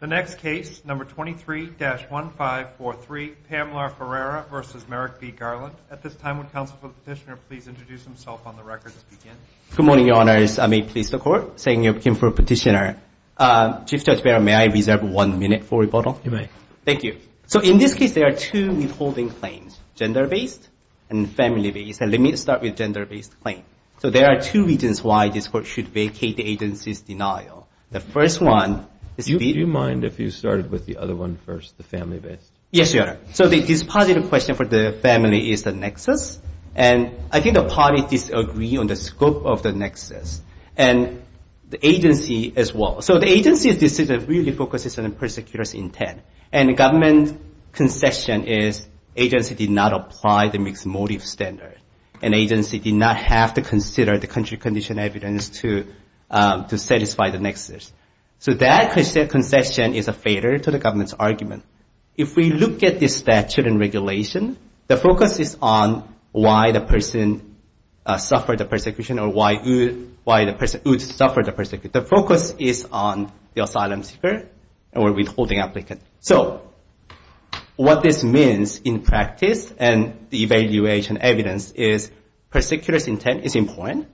The next case, No. 23-1543, Pamela Ferreira v. Merrick v. Garland. At this time, would Counsel for the Petitioner please introduce himself on the record to begin? Good morning, Your Honors. I may please the Court, saying I came for the Petitioner. Chief Judge Barron, may I reserve one minute for rebuttal? You may. Thank you. So in this case, there are two withholding claims, gender-based and family-based. Let me start with gender-based claim. So there are two reasons why this Court should vacate the agency's denial. The first one is the Do you mind if you started with the other one first, the family-based? Yes, Your Honor. So this positive question for the family is the nexus. And I think the parties disagree on the scope of the nexus. And the agency as well. So the agency's decision really focuses on the persecutor's intent. And the government's concession is the agency did not apply the Mixed Motives Standard. And the agency did not have to consider the concession is a failure to the government's argument. If we look at the statute and regulation, the focus is on why the person suffered the persecution or why the person would suffer the persecution. The focus is on the asylum seeker or withholding applicant. So what this means in practice and the evaluation evidence is persecutor's intent is important.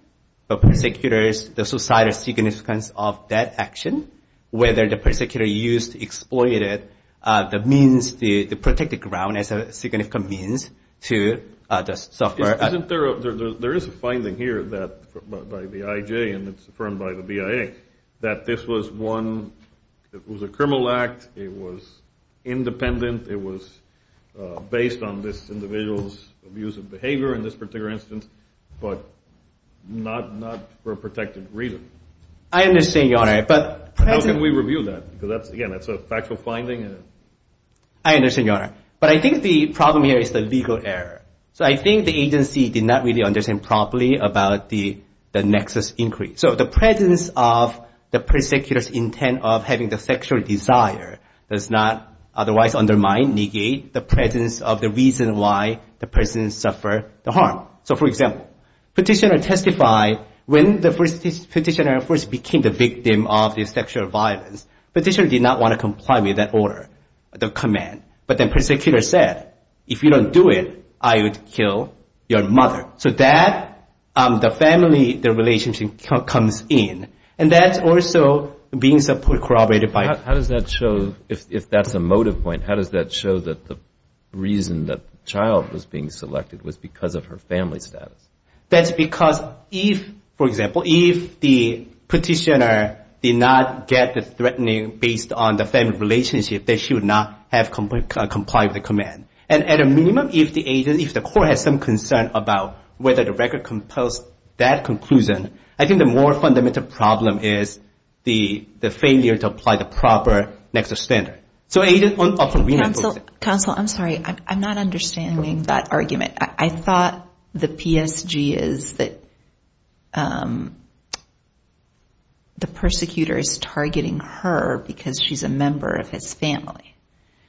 The persecutor's, the societal significance of that action, whether the persecutor used exploited the means to protect the ground as a significant means to just suffer. There is a finding here by the IJ and it's affirmed by the BIA that this was one, it was a criminal act, it was independent, it was based on this individual's abuse of behavior in this particular instance, but not for a protected reason. I understand, Your Honor. But how can we review that? Because again, that's a factual finding. I understand, Your Honor. But I think the problem here is the legal error. So I think the agency did not really understand properly about the nexus inquiry. So the presence of the persecutor's intent of having the sexual desire does not otherwise undermine, negate the presence of the reason why the person suffered the harm. So for example, petitioner testified when the petitioner first became the victim of the sexual violence, petitioner did not want to comply with that order, the command. But then persecutor said, if you don't do it, I would kill your mother. So that, the family, the relationship comes in. And that's also being corroborated by... The reason that the child was being selected was because of her family status. That's because if, for example, if the petitioner did not get the threatening based on the family relationship, then she would not have complied with the command. And at a minimum, if the agent, if the court has some concern about whether the record compels that conclusion, I think the more fundamental problem is the failure to apply the proper nexus standard. So agent... Counsel, I'm sorry. I'm not understanding that argument. I thought the PSG is that the persecutor is targeting her because she's a member of his family.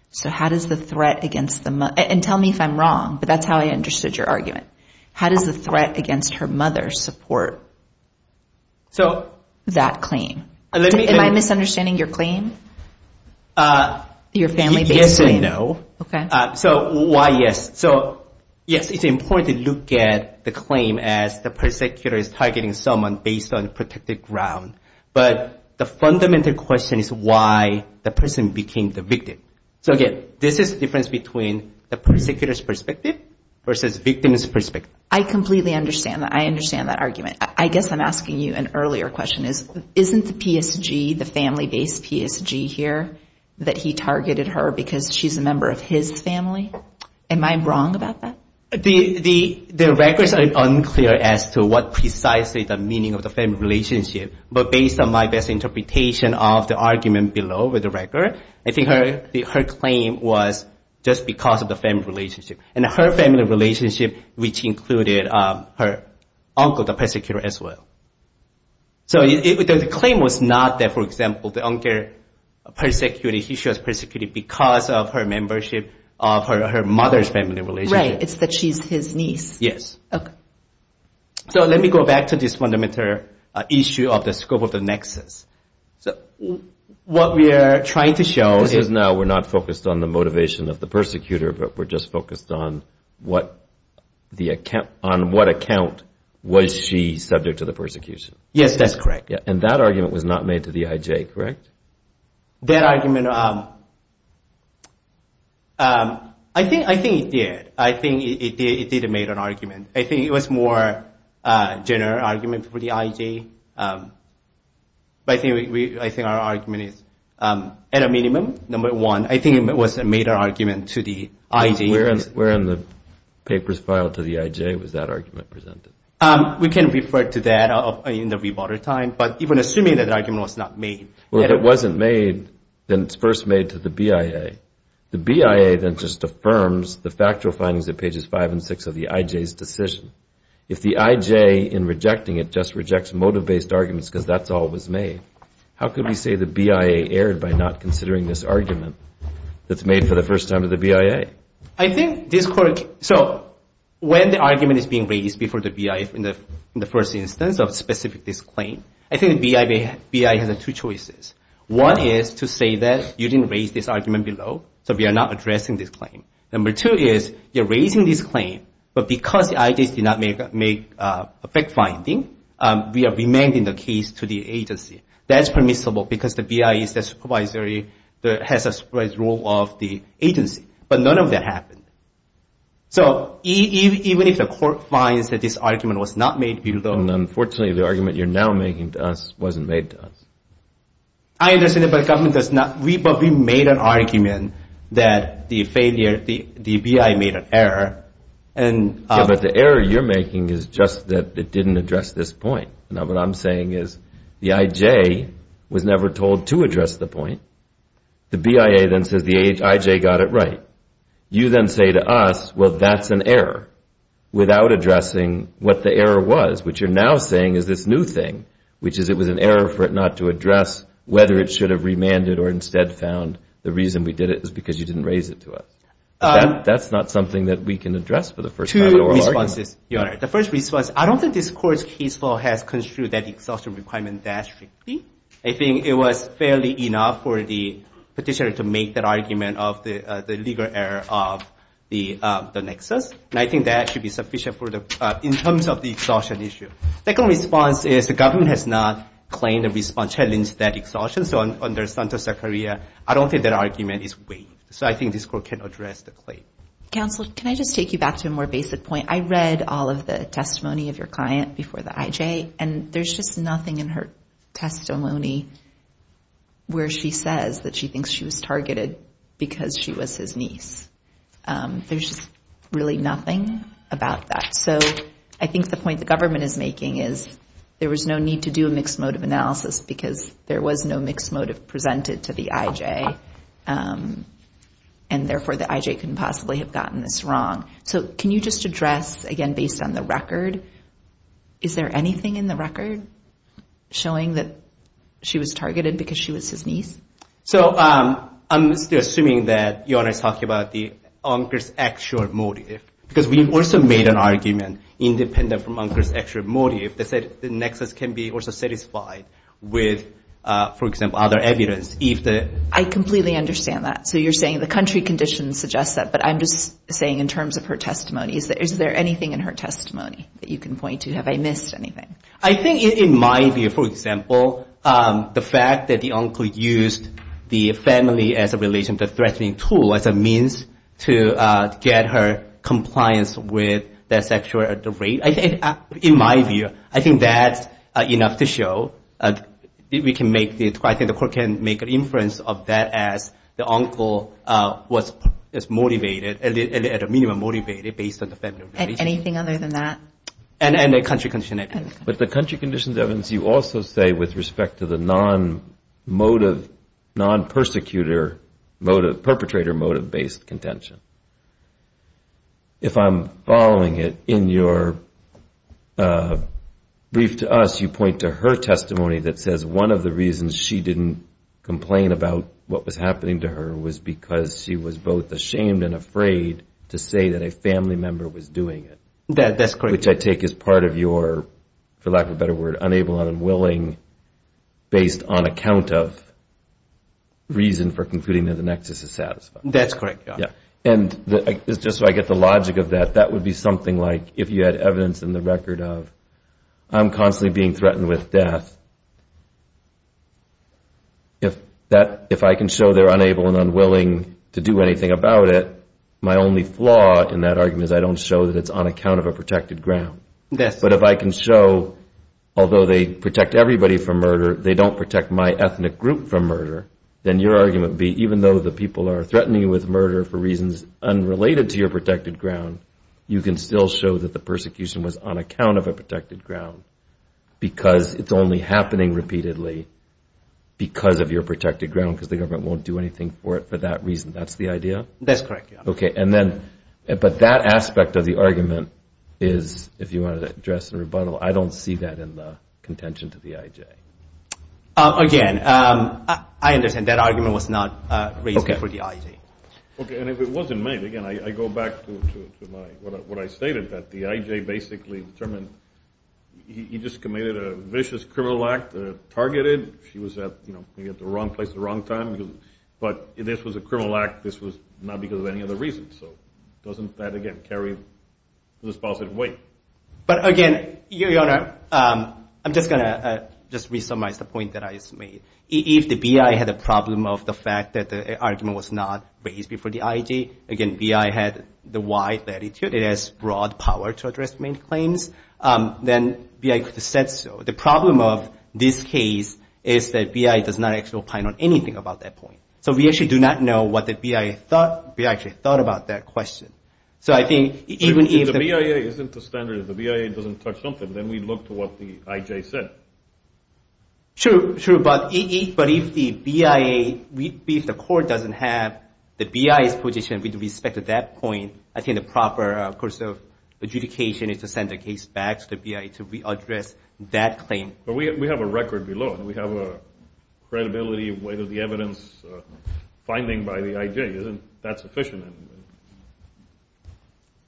So how does the threat against the... And tell me if I'm wrong, but that's how I understood your argument. How does the threat against her mother support that claim? Am I misunderstanding your claim? Your family-based claim? Yes and no. Okay. So why yes? So yes, it's important to look at the claim as the persecutor is targeting someone based on protected ground. But the fundamental question is why the person became the victim. So again, this is the difference between the persecutor's perspective versus victim's perspective. I completely understand that. I understand that argument. I guess I'm asking you an earlier question. Isn't the PSG, the family-based PSG here, that he targeted her because she's a member of his family? Am I wrong about that? The records are unclear as to what precisely the meaning of the family relationship, but based on my best interpretation of the argument below with the record, I think her claim was just because of the family relationship. And her family relationship, which included her uncle, the persecutor as well. So the claim was not that, for example, the uncle persecuted, he was persecuted because of her membership of her mother's family relationship. Right. It's that she's his niece. Yes. Okay. So let me go back to this fundamental issue of the scope of the nexus. What we are trying to show is now we're not focused on the motivation of the persecutor, but we're just focused on on what account was she subject to the persecution. Yes, that's correct. And that argument was not made to the IJ, correct? That argument, I think it did. I think it did make an argument. I think it was more a general argument for the IJ. But I think our argument is, at a minimum, number one, I think it was a made argument to the IJ. Where in the papers filed to the IJ was that argument presented? We can refer to that in the rebuttal time. But even assuming that the argument was not made. Well, if it wasn't made, then it's first made to the BIA. The BIA then just affirms the factual findings at pages five and six of the IJ's decision. If the IJ in rejecting it just rejects motive-based arguments because that's all was made, how could we say the that's made for the first time to the BIA? I think this court, so when the argument is being raised before the BIA in the first instance of specific this claim, I think the BIA has two choices. One is to say that you didn't raise this argument below, so we are not addressing this claim. Number two is you're raising this claim, but because the IJ did not make a fact-finding, we are remanding the case to the agency. That's permissible because the BIA is the supervisory agency that has a supervisory role of the agency. But none of that happened. So even if the court finds that this argument was not made below And unfortunately, the argument you're now making to us wasn't made to us. I understand that, but the government does not. We made an argument that the failure, the BIA made an error and Yeah, but the error you're making is just that it didn't address this point. Now, what I'm saying is the IJ was never told to address the point. The BIA then says the IJ got it right. You then say to us, well, that's an error, without addressing what the error was, which you're now saying is this new thing, which is it was an error for it not to address whether it should have remanded or instead found the reason we did it is because you didn't raise it to us. That's not something that we can address for the first time in an oral argument. The first response is, Your Honor, the first response, I don't think this court's case law has construed that exhaustion requirement that strictly. I think it was fairly enough for the petitioner to make that argument of the legal error of the nexus. And I think that should be sufficient for the, in terms of the exhaustion issue. Second response is the government has not claimed a response, challenged that exhaustion. So under Santos-Sacaria, I don't think that argument is weighed. So I think this court can address the claim. Counsel, can I just take you back to a more basic point? I read all of the testimony of your client before the IJ, and there's just nothing in her testimony where she says that she thinks she was targeted because she was his niece. There's really nothing about that. So I think the point the government is making is there was no need to do a mixed motive analysis because there was no mixed motive presented to the IJ, and therefore the IJ couldn't possibly have gotten this wrong. So can you just address, again, based on the record, is there anything in the record showing that she was targeted because she was his niece? So I'm still assuming that you're talking about the actual motive, because we also made an argument independent from the actual motive that said the nexus can be also satisfied with, for example, other evidence. I completely understand that. So you're saying the country conditions suggest that, but I'm just saying in terms of her testimony, is there anything in her testimony that you can point to? Have I missed anything? I think in my view, for example, the fact that the uncle used the family as a relation to threatening tool as a means to get her compliance with that sexual rape, in my view, I think that's enough to show. I think the court can make an inference of that as the uncle was motivated, at a minimum motivated, based on the family relation. Anything other than that? And the country conditions. But the country conditions evidence, you also say with respect to the non-motive, non-perpetrator motive, perpetrator motive based contention. If I'm following it, in your brief to us, you point to her testimony that says one of the reasons she didn't complain about what was happening to her was because she was both ashamed and afraid to say that a family member was doing it. That's correct. Which I take as part of your, for lack of a better word, unable and unwilling, based on account of reason for concluding that the nexus is satisfied. That's correct. And just so I get the logic of that, that would be something like if you had evidence in the record of I'm constantly being threatened with death, if I can show they're unable and unwilling to do anything about it, my only flaw in that argument is I don't show that it's on account of a protected ground. But if I can show, although they protect everybody from murder, they don't protect my ethnic group from murder, then your argument would be even though the people are threatening you with murder for reasons unrelated to your protected ground, you can still show that the persecution was on account of a protected ground because it's only happening repeatedly because of your protected ground, because the government won't do anything for it for that reason. That's the idea? That's correct. Okay. And then, but that aspect of the argument is, if you want to address the rebuttal, I don't see that in the contention to the IJ. Again, I understand that argument was not raised for the IJ. Okay. And if it wasn't made, again, I go back to what I stated that the IJ basically determined he just committed a vicious criminal act, targeted. She was at the wrong place at the wrong time, but this was a criminal act. This was not because of any other reason, so doesn't that, again, carry this positive weight? But again, Your Honor, I'm just going to just re-summarize the point that I just made. If the BI had a problem of the fact that the argument was not raised before the IJ, again, BI had the wide latitude, it has broad power to address main claims, then BI could have said so. The problem of this case is that BI does not actually opine on anything about that point. So we actually do not know what the BI thought. BI actually thought about that question. So I think even if— If the BIA isn't the standard, if the BIA doesn't touch something, then we look to what the IJ said. Sure, sure. But if the BIA, if the court doesn't have the BI's position with respect to that point, I think the proper course of adjudication is to send the case back to the BI to re-address that claim. But we have a record below, and we have a credibility of whether the evidence finding by the IJ isn't that sufficient.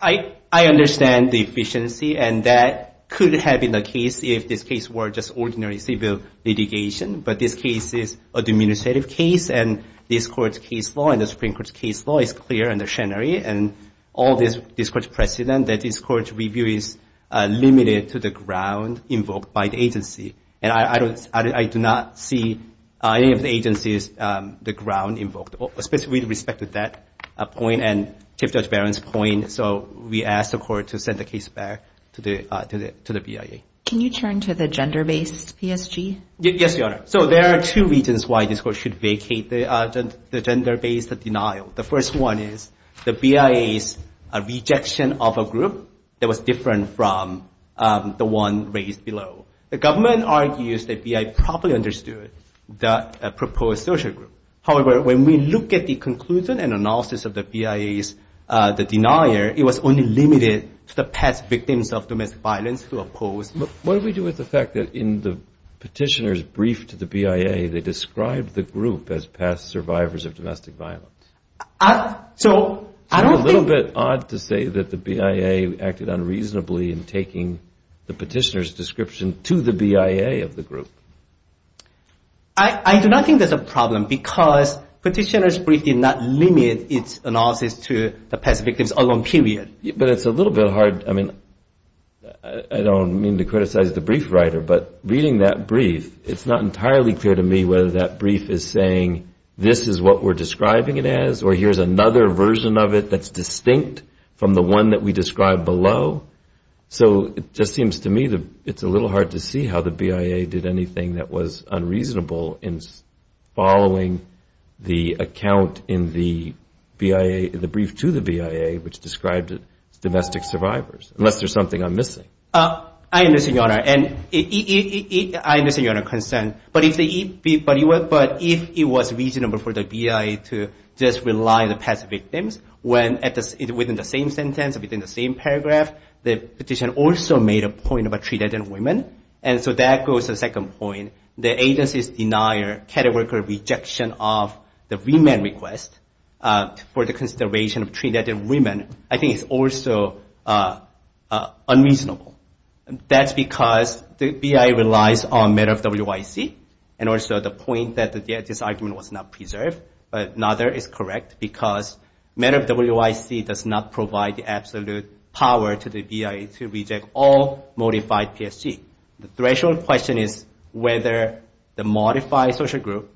I understand the efficiency, and that could have been the case if this case were just ordinary civil litigation. But this case is a administrative case, and this court's case law and the Supreme Court's case law is clear under Schenery. And all this court's precedent, that this court's review is limited to the ground invoked by the agency. And I do not see any of the agencies, the ground invoked, especially with respect to that point and Chief Judge Barron's point. So we ask the court to send the case back to the BIA. Can you turn to the gender-based PSG? Yes, Your Honor. So there are two reasons why this court should vacate the gender-based denial. The first one is the BIA's rejection of a group that was different from the one raised below. The government argues that BIA probably understood the proposed social group. However, when we look at the conclusion and analysis of the BIA's denier, it was only limited to the past victims of domestic violence who opposed. What do we do with the fact that in the petitioner's brief to the BIA, they described the group as past survivors of domestic violence? So I don't think— I do not think there's a problem because petitioner's brief did not limit its analysis to the past victims alone, period. But it's a little bit hard—I mean, I don't mean to criticize the brief writer, but reading that brief, it's not entirely clear to me whether that brief is saying, this is what we're describing it as, or here's another version of it that's distinct from the one that we described below. So it just seems to me that it's a little hard to see how the BIA did anything that was unreasonable in following the account in the BIA—in the brief to the BIA, which described it as domestic survivors, unless there's something I'm missing. I understand, Your Honor. And I understand Your Honor's concern, but if it was reasonable for the BIA to just rely on the past victims, when within the same sentence, within the same paragraph, the petitioner also made a point about treated women. And so that goes to the second point. The agency's denial, categorical rejection of the remand request for the consideration of treated women, I think is also unreasonable. That's because the BIA relies on matter of WIC, and also the point that this argument was not preserved. But another is correct, because matter of WIC does not provide the absolute power to the BIA to reject all modified PSG. The threshold question is whether the modified social group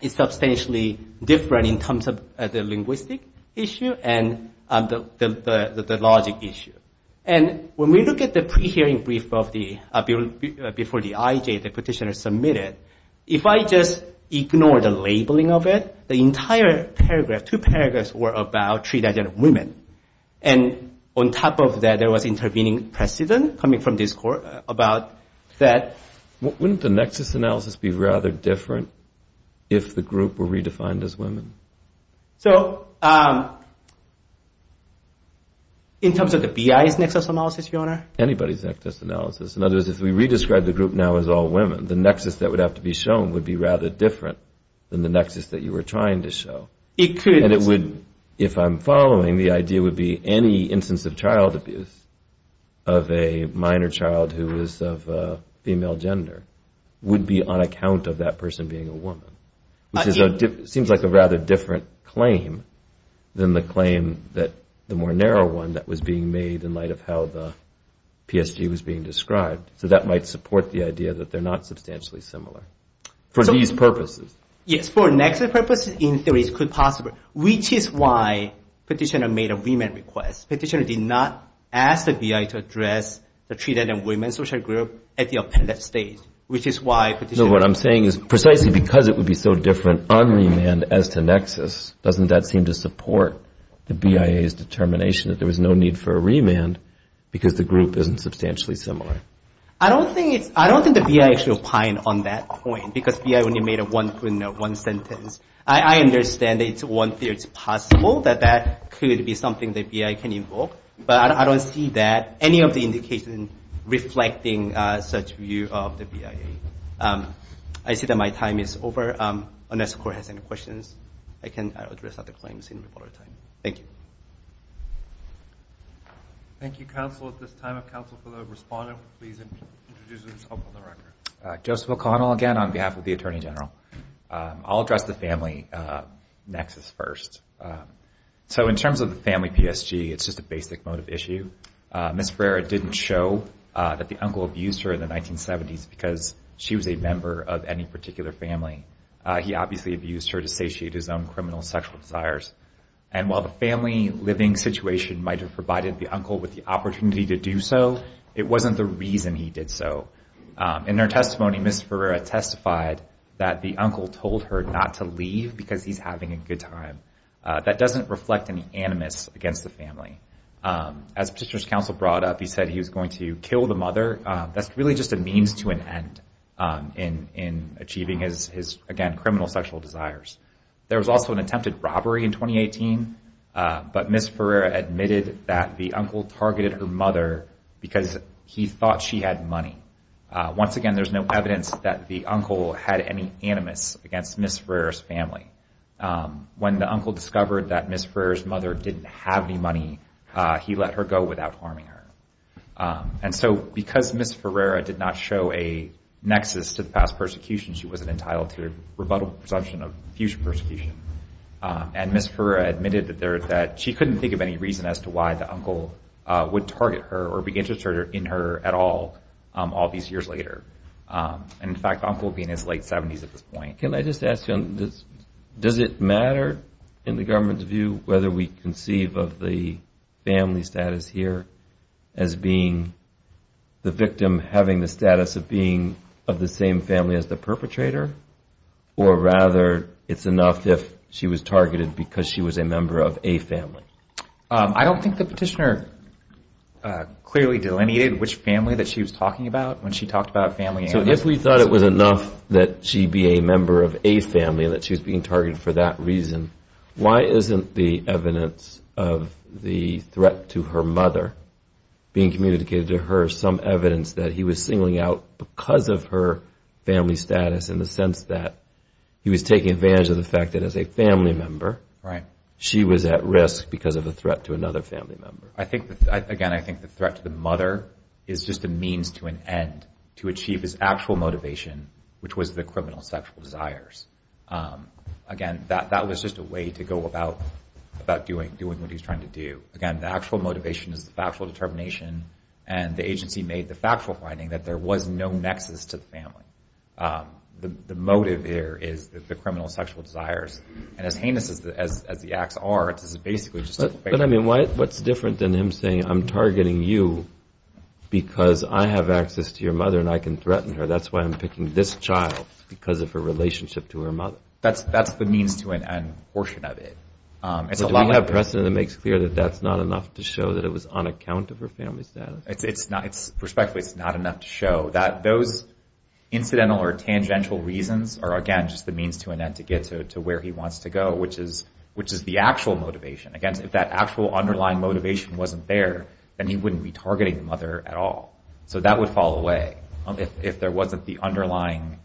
is substantially different in terms of the linguistic issue and the logic issue. And when we look at the pre-hearing brief before the IJ, the petitioner submitted, if I just ignore the labeling of it, the entire paragraph, two paragraphs, were about treated women. And on top of that, there was intervening precedent coming from this court about that. Wouldn't the nexus analysis be rather different if the group were redefined as women? So in terms of the BIA's nexus analysis, Your Honor? Anybody's nexus analysis. In other words, if we re-describe the group now as all women, the nexus that would have to be shown would be rather different than the nexus that you were trying to show. It could. And it would, if I'm following, the idea would be any instance of child abuse of a minor child who is of female gender would be on account of that person being a woman, which seems like a rather different claim than the claim that the more narrow one that was being made in light of how the PSG was being described. So that might support the idea that they're not substantially similar for these purposes. Yes. For nexus purposes, in theory, it's quite possible, which is why petitioner made a remand request. Petitioner did not ask the BIA to address the treated women social group at the appended stage, which is why petitioner— So what I'm saying is precisely because it would be so different on remand as to nexus, doesn't that seem to support the BIA's determination that there was no need for a remand because the group isn't substantially similar? I don't think the BIA should opine on that point because BIA only made one sentence. I understand that it's one theory. It's possible that that could be something that BIA can invoke. But I don't see that, any of the indications reflecting such view of the BIA. I see that my time is over. Unless the court has any questions, I can address other claims in reported time. Thank you. Thank you, counsel. At this time, if counsel for the respondent would please introduce himself on the record. Joseph O'Connell, again, on behalf of the Attorney General. I'll address the family nexus first. So in terms of the family PSG, it's just a basic motive issue. Ms. Ferreira didn't show that the uncle abused her in the 1970s because she was a member of any particular family. He obviously abused her to satiate his own criminal sexual desires. And while the family living situation might have provided the uncle with the opportunity to do so, it wasn't the reason he did so. In their testimony, Ms. Ferreira testified that the uncle told her not to leave because he's having a good time. That doesn't reflect any animus against the family. As Petitioner's counsel brought up, he said he was going to kill the mother. That's really just a means to an end in achieving his, again, criminal sexual desires. There was also an attempted robbery in 2018, but Ms. Ferreira admitted that the uncle targeted her mother because he thought she had money. Once again, there's no evidence that the uncle had any animus against Ms. Ferreira's family. When the uncle discovered that Ms. Ferreira's mother didn't have any money, he let her go without harming her. And so because Ms. Ferreira did not show a nexus to the past persecution, she wasn't entitled to a rebuttable presumption of future persecution. And Ms. Ferreira admitted that she couldn't think of any reason as to why the uncle would target her or be interested in her at all, all these years later. And in fact, the uncle would be in his late 70s at this point. Can I just ask you, does it matter in the government's view whether we conceive of the family status here as being the victim having the status of being of the same family as the perpetrator, or rather it's enough if she was targeted because she was a member of a family? I don't think the petitioner clearly delineated which family that she was talking about when she talked about family animus. So if we thought it was enough that she be a member of a family and that she was being targeted for that reason, why isn't the evidence of the threat to her mother being just a means to an end to achieve his actual motivation, which was the criminal sexual desires? Again, that was just a way to go about doing what he's trying to do. Again, the actual motivation is the factual determination and the agency made the factual finding that there was no nexus to the family. The motive here is the criminal sexual desires. And as heinous as the acts are, it's basically just a fake. But I mean, what's different than him saying, I'm targeting you because I have access to your mother and I can threaten her. That's why I'm picking this child because of her relationship to her mother. That's the means to an end portion of it. Do we have precedent that makes clear that that's not enough to show that it was on account of her family status? Perspectively, it's not enough to show that those incidental or tangential reasons are, again, just the means to an end to get to where he wants to go, which is the actual motivation. Again, if that actual underlying motivation wasn't there, then he wouldn't be targeting the mother at all. So that would fall away if there wasn't the underlying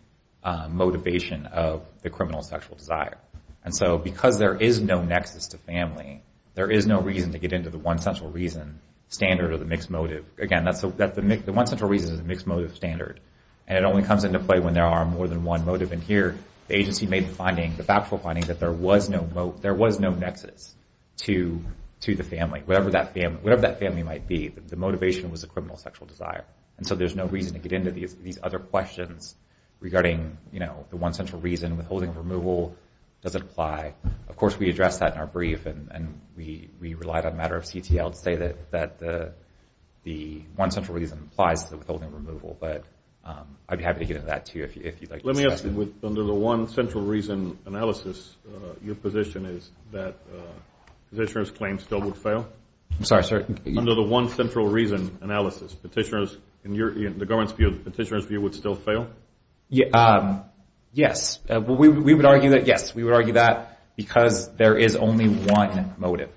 motivation of the criminal sexual desire. And so because there is no nexus to family, there is no reason to get into the one central reason standard of the mixed motive. Again, the one central reason is the mixed motive standard. And it only comes into play when there are more than one motive. And here, the agency made the finding, the factual finding, that there was no nexus to the family, whatever that family might be. The motivation was the criminal sexual desire. And so there's no reason to get into these other questions regarding the one central reason. Withholding of removal doesn't apply. Of course, we addressed that in our brief. And we relied on a matter of CTL to say that the one central reason applies to the withholding removal. But I'd be happy to get into that, too, if you'd like to discuss it. Let me ask you, under the one central reason analysis, your position is that petitioner's claims still would fail? I'm sorry, sir? Under the one central reason analysis, petitioner's, in the government's view, the petitioner's view would still fail? Yes. Well, we would argue that, yes. We would argue that because there is only one motive.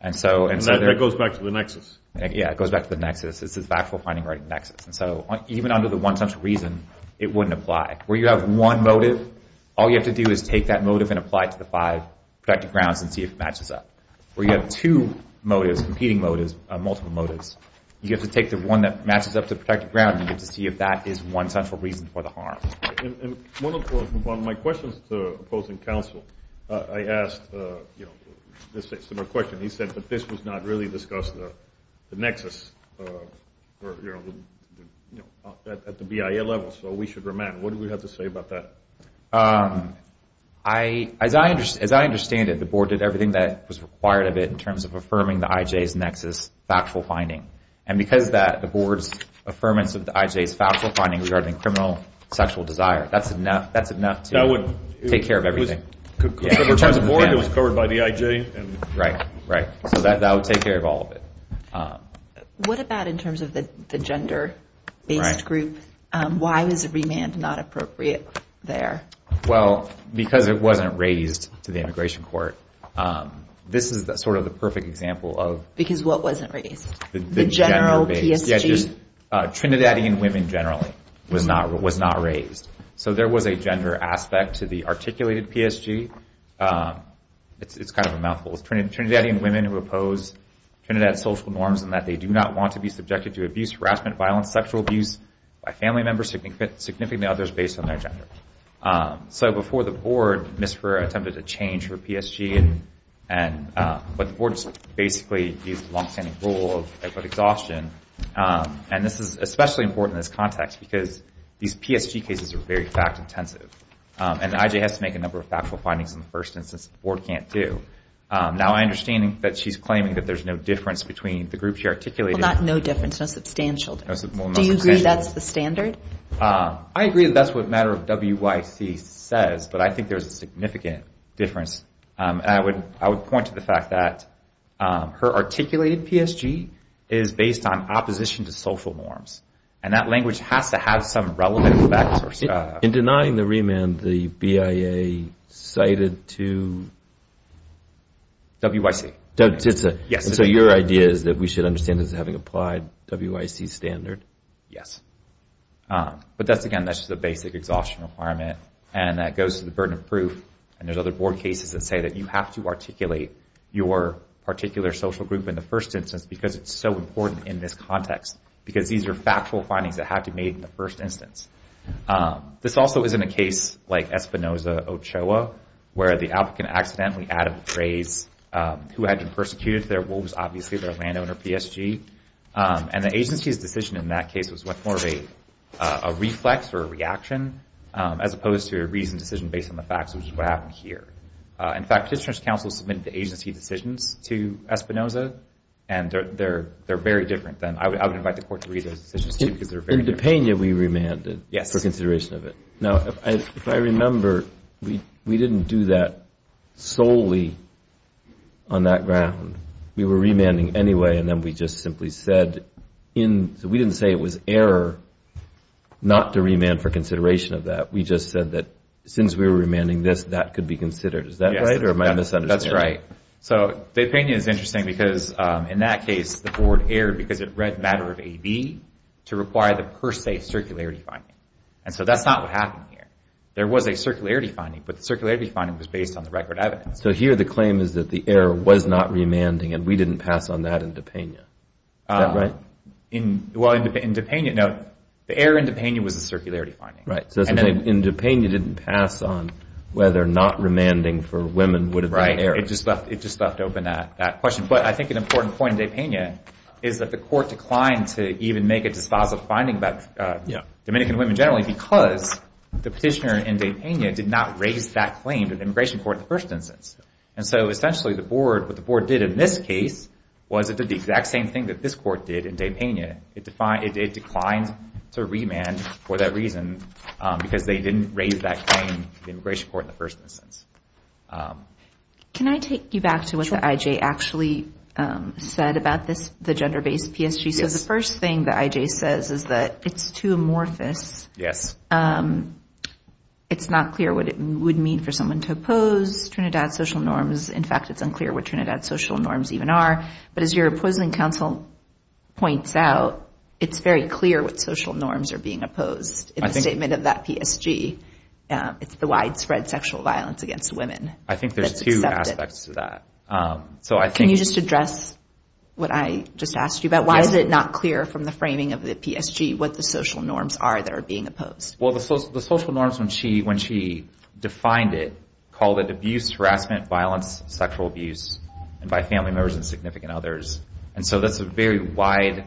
And that goes back to the nexus. Yeah, it goes back to the nexus. It's this factual finding right in the nexus. And so even under the one central reason, it wouldn't apply. Where you have one motive, all you have to do is take that motive and apply it to the five protected grounds and see if it matches up. Where you have two motives, competing motives, multiple motives, you have to take the one that matches up to the protected ground, and you have to see if that is one central reason for the harm. One of my questions to opposing counsel, I asked a similar question. He said that this was not really discussed, the nexus, at the BIA level. So we should remand. What do we have to say about that? As I understand it, the board did everything that was required of it in terms of affirming the IJ's nexus factual finding. And because of that, the board's affirmance of the IJ's factual finding regarding criminal sexual desire, that's enough to take care of everything. It was covered by the board, it was covered by the IJ. Right, right. So that would take care of all of it. What about in terms of the gender-based group? Why was a remand not appropriate there? Well, because it wasn't raised to the immigration court. This is sort of the perfect example of... Because what wasn't raised? The general PSG? Trinidadian women, generally, was not raised. So there was a gender aspect to the articulated PSG. It's kind of a mouthful. It's Trinidadian women who oppose Trinidad social norms in that they do not want to be subjected to abuse, harassment, violence, sexual abuse by family members, significantly others based on their gender. So before the board, Ms. Ferrer attempted to change her PSG, but the board basically abused the long-standing rule of exhaustion. And this is especially important in this context because these PSG cases are very fact-intensive. And the IJ has to make a number of factual findings in the first instance, the board can't do. Now, I understand that she's claiming that there's no difference between the groups she articulated... Well, not no difference, no substantial difference. Do you agree that's the standard? I agree that that's what Matter of WYC says, but I think there's a significant difference. And I would point to the fact that her articulated PSG is based on opposition to social norms. And that language has to have some relevant effect. In denying the remand, the BIA cited to... WYC. So your idea is that we should understand this as having applied WYC standard? Yes. But that's, again, that's just a basic exhaustion requirement. And that goes to the burden of proof. And there's other board cases that say that you have to articulate your particular social group in the first instance, because it's so important in this context. Because these are factual findings that have to be made in the first instance. This also is in a case like Espinoza-Ochoa, where the applicant accidentally added the phrase, who had been persecuted there was obviously their landowner PSG. And the agency's decision in that case was much more of a reflex or a reaction, as opposed to a reasoned decision based on the facts, which is what happened here. In fact, Petitioner's Council submitted the agency decisions to Espinoza. And they're very different than... I would invite the court to read those decisions, too, because they're very different. In Depenia, we remanded for consideration of it. Now, if I remember, we didn't do that solely on that ground. We were remanding anyway. And then we just simply said in... We just said that since we were remanding this, that could be considered. Is that right? Or am I misunderstanding? That's right. So Depenia is interesting because in that case, the board erred because it read matter of AB to require the per se circularity finding. And so that's not what happened here. There was a circularity finding, but the circularity finding was based on the record evidence. So here the claim is that the error was not remanding, and we didn't pass on that in Depenia. Is that right? Well, in Depenia, no. The error in Depenia was a circularity finding. So in Depenia, you didn't pass on whether not remanding for women would have been an error. It just left open that question. But I think an important point in Depenia is that the court declined to even make a dispositive finding about Dominican women generally because the petitioner in Depenia did not raise that claim to the immigration court in the first instance. And so essentially, what the board did in this case was it did the exact same thing that this court did in Depenia. It declined to remand for that reason because they didn't raise that claim to the immigration court in the first instance. Can I take you back to what the IJ actually said about this, the gender-based PSG? So the first thing the IJ says is that it's too amorphous. Yes. It's not clear what it would mean for someone to oppose Trinidad's social norms. In fact, it's unclear what Trinidad's social norms even are. But as your opposing counsel points out, it's very clear what social norms are being opposed in the statement of that PSG. It's the widespread sexual violence against women. I think there's two aspects to that. Can you just address what I just asked you about? Why is it not clear from the framing of the PSG what the social norms are that are being opposed? The social norms, when she defined it, called it abuse, harassment, violence, sexual abuse, and by family members and significant others. And so that's a very wide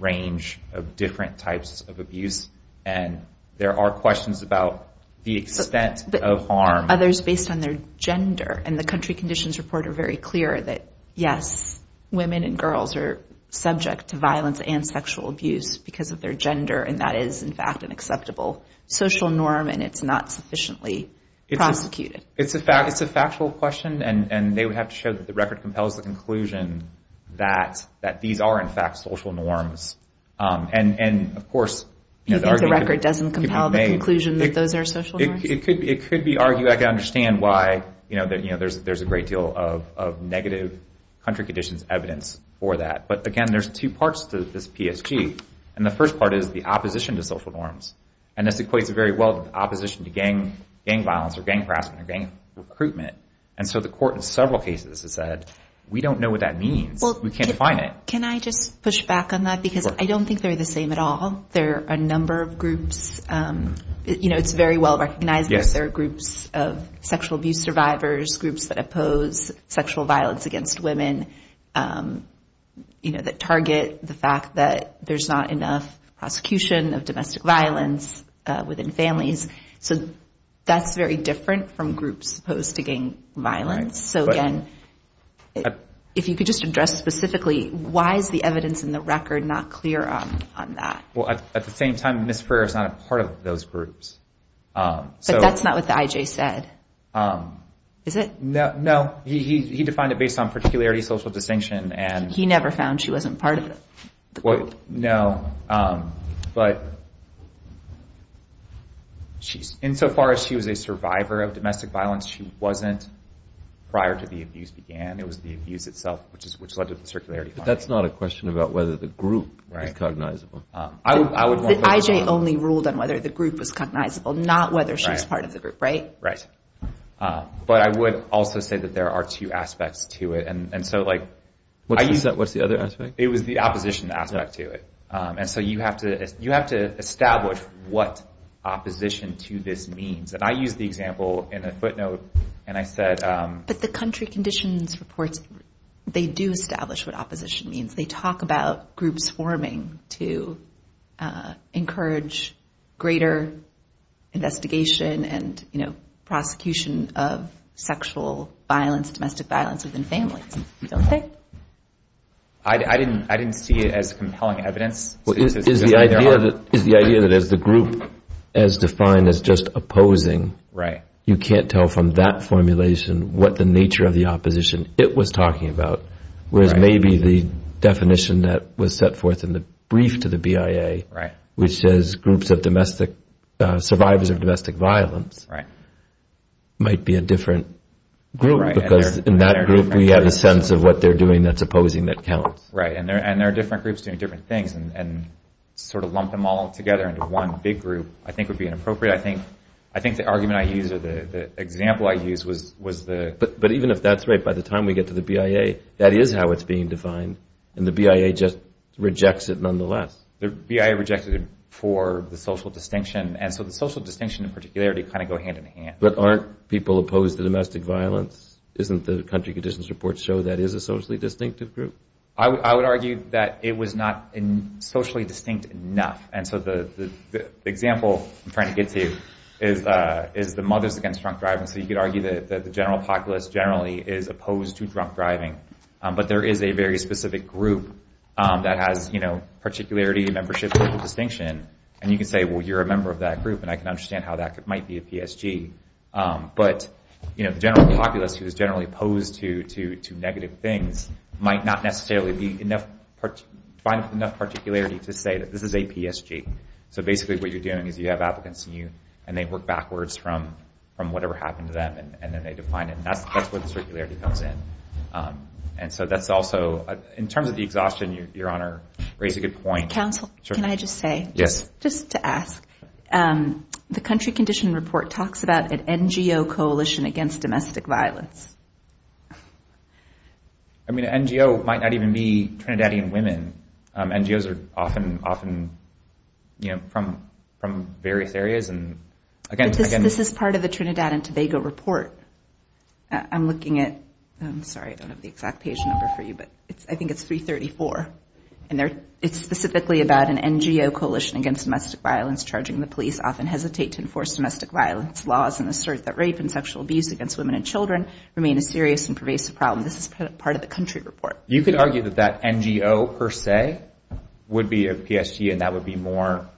range of different types of abuse. And there are questions about the extent of harm. Others based on their gender. And the country conditions report are very clear that, yes, women and girls are subject to violence and sexual abuse because of their gender. And that is, in fact, an acceptable social norm. And it's not sufficiently prosecuted. It's a factual question. And they would have to show that the record compels the conclusion that these are, in fact, social norms. And, of course, the argument could be made— You think the record doesn't compel the conclusion that those are social norms? It could be argued. I can understand why there's a great deal of negative country conditions evidence for that. But, again, there's two parts to this PSG. And the first part is the opposition to social norms. And this equates very well to opposition to gang violence or gang harassment or gang recruitment. And so the court in several cases has said, we don't know what that means. We can't define it. Can I just push back on that? Because I don't think they're the same at all. There are a number of groups. It's very well recognized that there are groups of sexual abuse survivors, groups that oppose sexual violence against women that target the fact that there's not enough prosecution of domestic violence within families. So that's very different from groups opposed to gang violence. So, again, if you could just address specifically, why is the evidence in the record not clear on that? Well, at the same time, Ms. Freer is not a part of those groups. But that's not what the IJ said, is it? No, he defined it based on particularity, social distinction, and— He never found she wasn't part of the group. No, but insofar as she was a survivor of domestic violence, she wasn't prior to the abuse began. It was the abuse itself which led to the circularity finding. That's not a question about whether the group is cognizable. The IJ only ruled on whether the group was cognizable, not whether she was part of the group, right? Right. But I would also say that there are two aspects to it. And so, like— What's the other aspect? It was the opposition aspect to it. And so, you have to establish what opposition to this means. And I used the example in a footnote, and I said— But the country conditions reports, they do establish what opposition means. They talk about groups forming to encourage greater investigation and, you know, prosecution of sexual violence, domestic violence within families, don't they? I didn't see it as compelling evidence. Well, is the idea that as the group is defined as just opposing, you can't tell from that formulation what the nature of the opposition it was talking about, whereas maybe the definition that was set forth in the brief to the BIA, which says groups of domestic—survivors of domestic violence might be a different group because in that group we have a sense of what they're doing that's opposing that counts. Right. And there are different groups doing different things. And sort of lump them all together into one big group, I think, would be inappropriate. I think the argument I used or the example I used was the— But even if that's right, by the time we get to the BIA, that is how it's being defined. And the BIA just rejects it nonetheless. The BIA rejected it for the social distinction. And so, the social distinction, in particularity, kind of go hand in hand. But aren't people opposed to domestic violence? Isn't the country conditions report show that is a socially distinctive group? I would argue that it was not socially distinct enough. And so, the example I'm trying to get to is the Mothers Against Drunk Driving. So, you could argue that the general populace generally is opposed to drunk driving. But there is a very specific group that has, you know, particularity, membership, social distinction. And you can say, well, you're a member of that group. And I can understand how that might be a PSG. But, you know, the general populace who is generally opposed to negative things might not necessarily be enough—find enough particularity to say that this is a PSG. So, basically, what you're doing is you have applicants and they work backwards from whatever happened to them and then they define it. And that's where the circularity comes in. And so, that's also—in terms of the exhaustion, Your Honor, raise a good point. Counsel, can I just say? Yes. Just to ask, the Country Condition Report talks about an NGO coalition against domestic violence. I mean, an NGO might not even be Trinidadian women. NGOs are often, you know, from various areas. But this is part of the Trinidad and Tobago Report. I'm looking at—I'm sorry, I don't have the exact page number for you. But I think it's 334. And it's specifically about an NGO coalition against domestic violence charging the police often hesitate to enforce domestic violence laws and assert that rape and sexual abuse against women and children remain a serious and pervasive problem. This is part of the Country Report. You could argue that that NGO, per se, would be a PSG and that would be more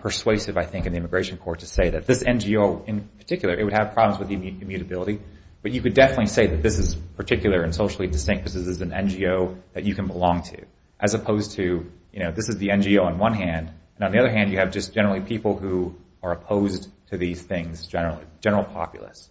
persuasive, I think, in the Immigration Court to say that this NGO in particular, it would have problems with immutability. But you could definitely say that this is particular and socially distinct because this is an NGO that you can belong to. As opposed to, you know, this is the NGO on one hand, and on the other hand, you have just generally people who are opposed to these things generally, general populace.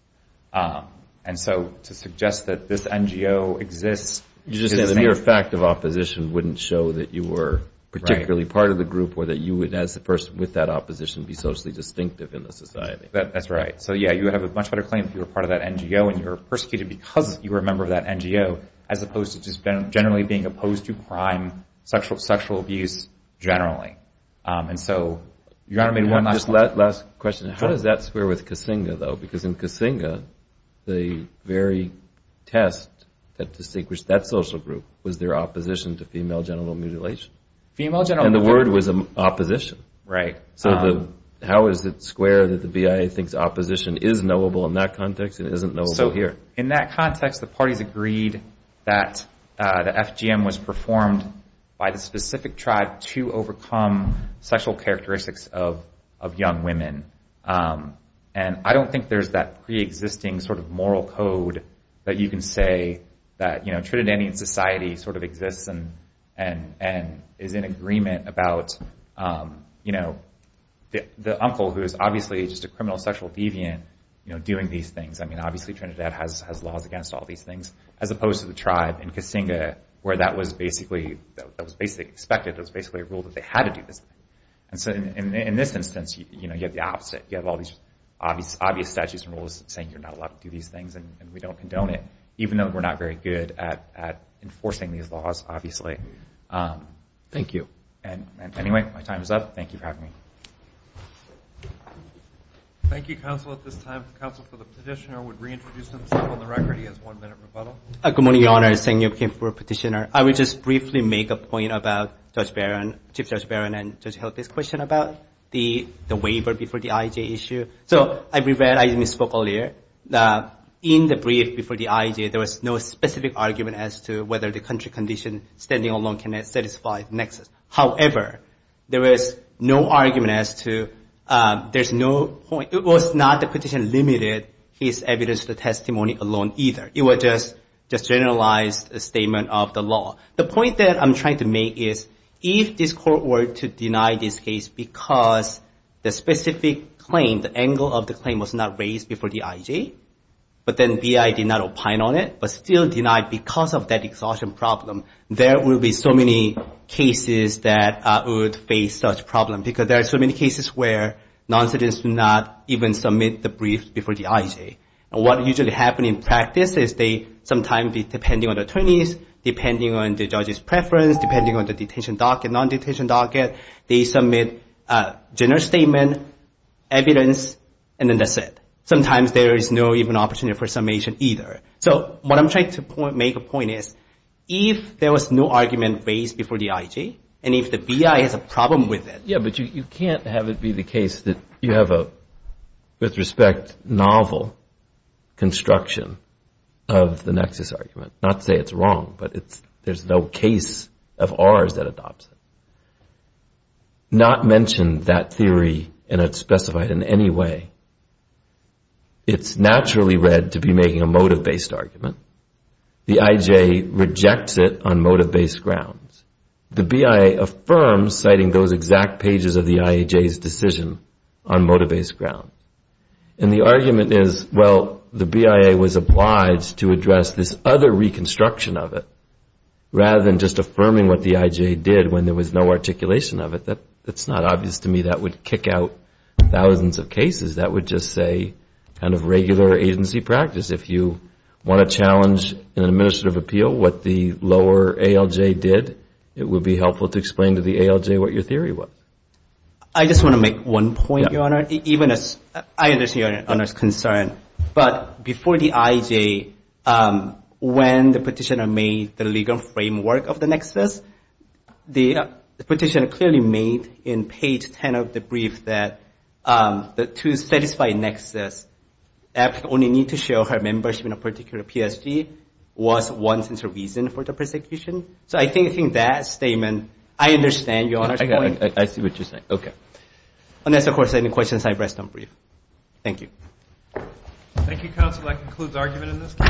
And so to suggest that this NGO exists— You just said the mere fact of opposition wouldn't show that you were particularly part of the group or that you would, as the person with that opposition, be socially distinctive in the society. That's right. So yeah, you would have a much better claim if you were part of that NGO and you were persecuted because you were a member of that NGO, as opposed to just generally being opposed to crime, sexual abuse, generally. And so, Your Honor, maybe one last question. Last question. How does that square with Kasinga, though? Because in Kasinga, the very test that distinguished that social group was their opposition to female genital mutilation. Female genital mutilation— And the word was opposition. Right. So how is it square that the BIA thinks opposition is knowable in that context and isn't knowable here? In that context, the parties agreed that the FGM was performed by the specific tribe to overcome sexual characteristics of young women. And I don't think there's that pre-existing sort of moral code that you can say that Trinidadian society sort of exists and is in agreement about the uncle, who is obviously just a criminal sexual deviant, doing these things. Obviously, Trinidad has laws against all these things, as opposed to the tribe in Kasinga, where that was basically expected. That was basically a rule that they had to do this. And so in this instance, you have the opposite. You have all these obvious statutes and rules saying you're not allowed to do these things, and we don't condone it, even though we're not very good at enforcing these laws, obviously. Thank you. And anyway, my time is up. Thank you for having me. Thank you, counsel, at this time. Counsel for the petitioner would reintroduce himself on the record. He has one minute rebuttal. Good morning, Your Honor. Sang-Yup Kim for petitioner. I would just briefly make a point about Judge Barron, Chief Judge Barron and Judge Hill, this question about the waiver before the IJ issue. So I regret I misspoke earlier. In the brief before the IJ, there was no specific argument as to whether the country condition standing alone can satisfy Nexus. However, there was no argument as to there's no point. It was not the petitioner limited his evidence to the testimony alone either. It was just a generalized statement of the law. The point that I'm trying to make is if this court were to deny this case because the specific claim, the angle of the claim was not raised before the IJ, but then BI did not opine on it, but still denied because of that exhaustion problem, there will be so many cases that would face such problems. Because there are so many cases where non-citizens do not even submit the brief before the IJ. What usually happens in practice is they sometimes, depending on the attorneys, depending on the judge's preference, depending on the detention docket, non-detention docket, they submit a general statement, evidence, and then that's it. Sometimes there is no even opportunity for summation either. So what I'm trying to make a point is if there was no argument raised before the IJ and if the BI has a problem with it. Yeah, but you can't have it be the case that you have a, with respect, novel construction of the Nexus argument. Not to say it's wrong, but there's no case of ours that adopts it. Not mention that theory and it's specified in any way. It's naturally read to be making a motive-based argument. The IJ rejects it on motive-based grounds. The BIA affirms citing those exact pages of the IJ's decision on motive-based grounds. And the argument is, well, the BIA was obliged to address this other reconstruction of it rather than just affirming what the IJ did when there was no articulation of it. That's not obvious to me. That would kick out thousands of cases. That would just say kind of regular agency practice. If you want to challenge an administrative appeal what the lower ALJ did, it would be helpful to explain to the ALJ what your theory was. I just want to make one point, Your Honor. Even as I understand Your Honor's concern, but before the IJ, when the petitioner made the legal framework of the Nexus, the petitioner clearly made in page 10 of the brief that to satisfy Nexus, APC only need to show her membership in a particular PSG was one central reason for the persecution. So I think that statement, I understand Your Honor's point. I got it. I see what you're saying. Okay. Unless, of course, any questions, I rest on brief. Thank you. Thank you, counsel. That concludes argument in this case.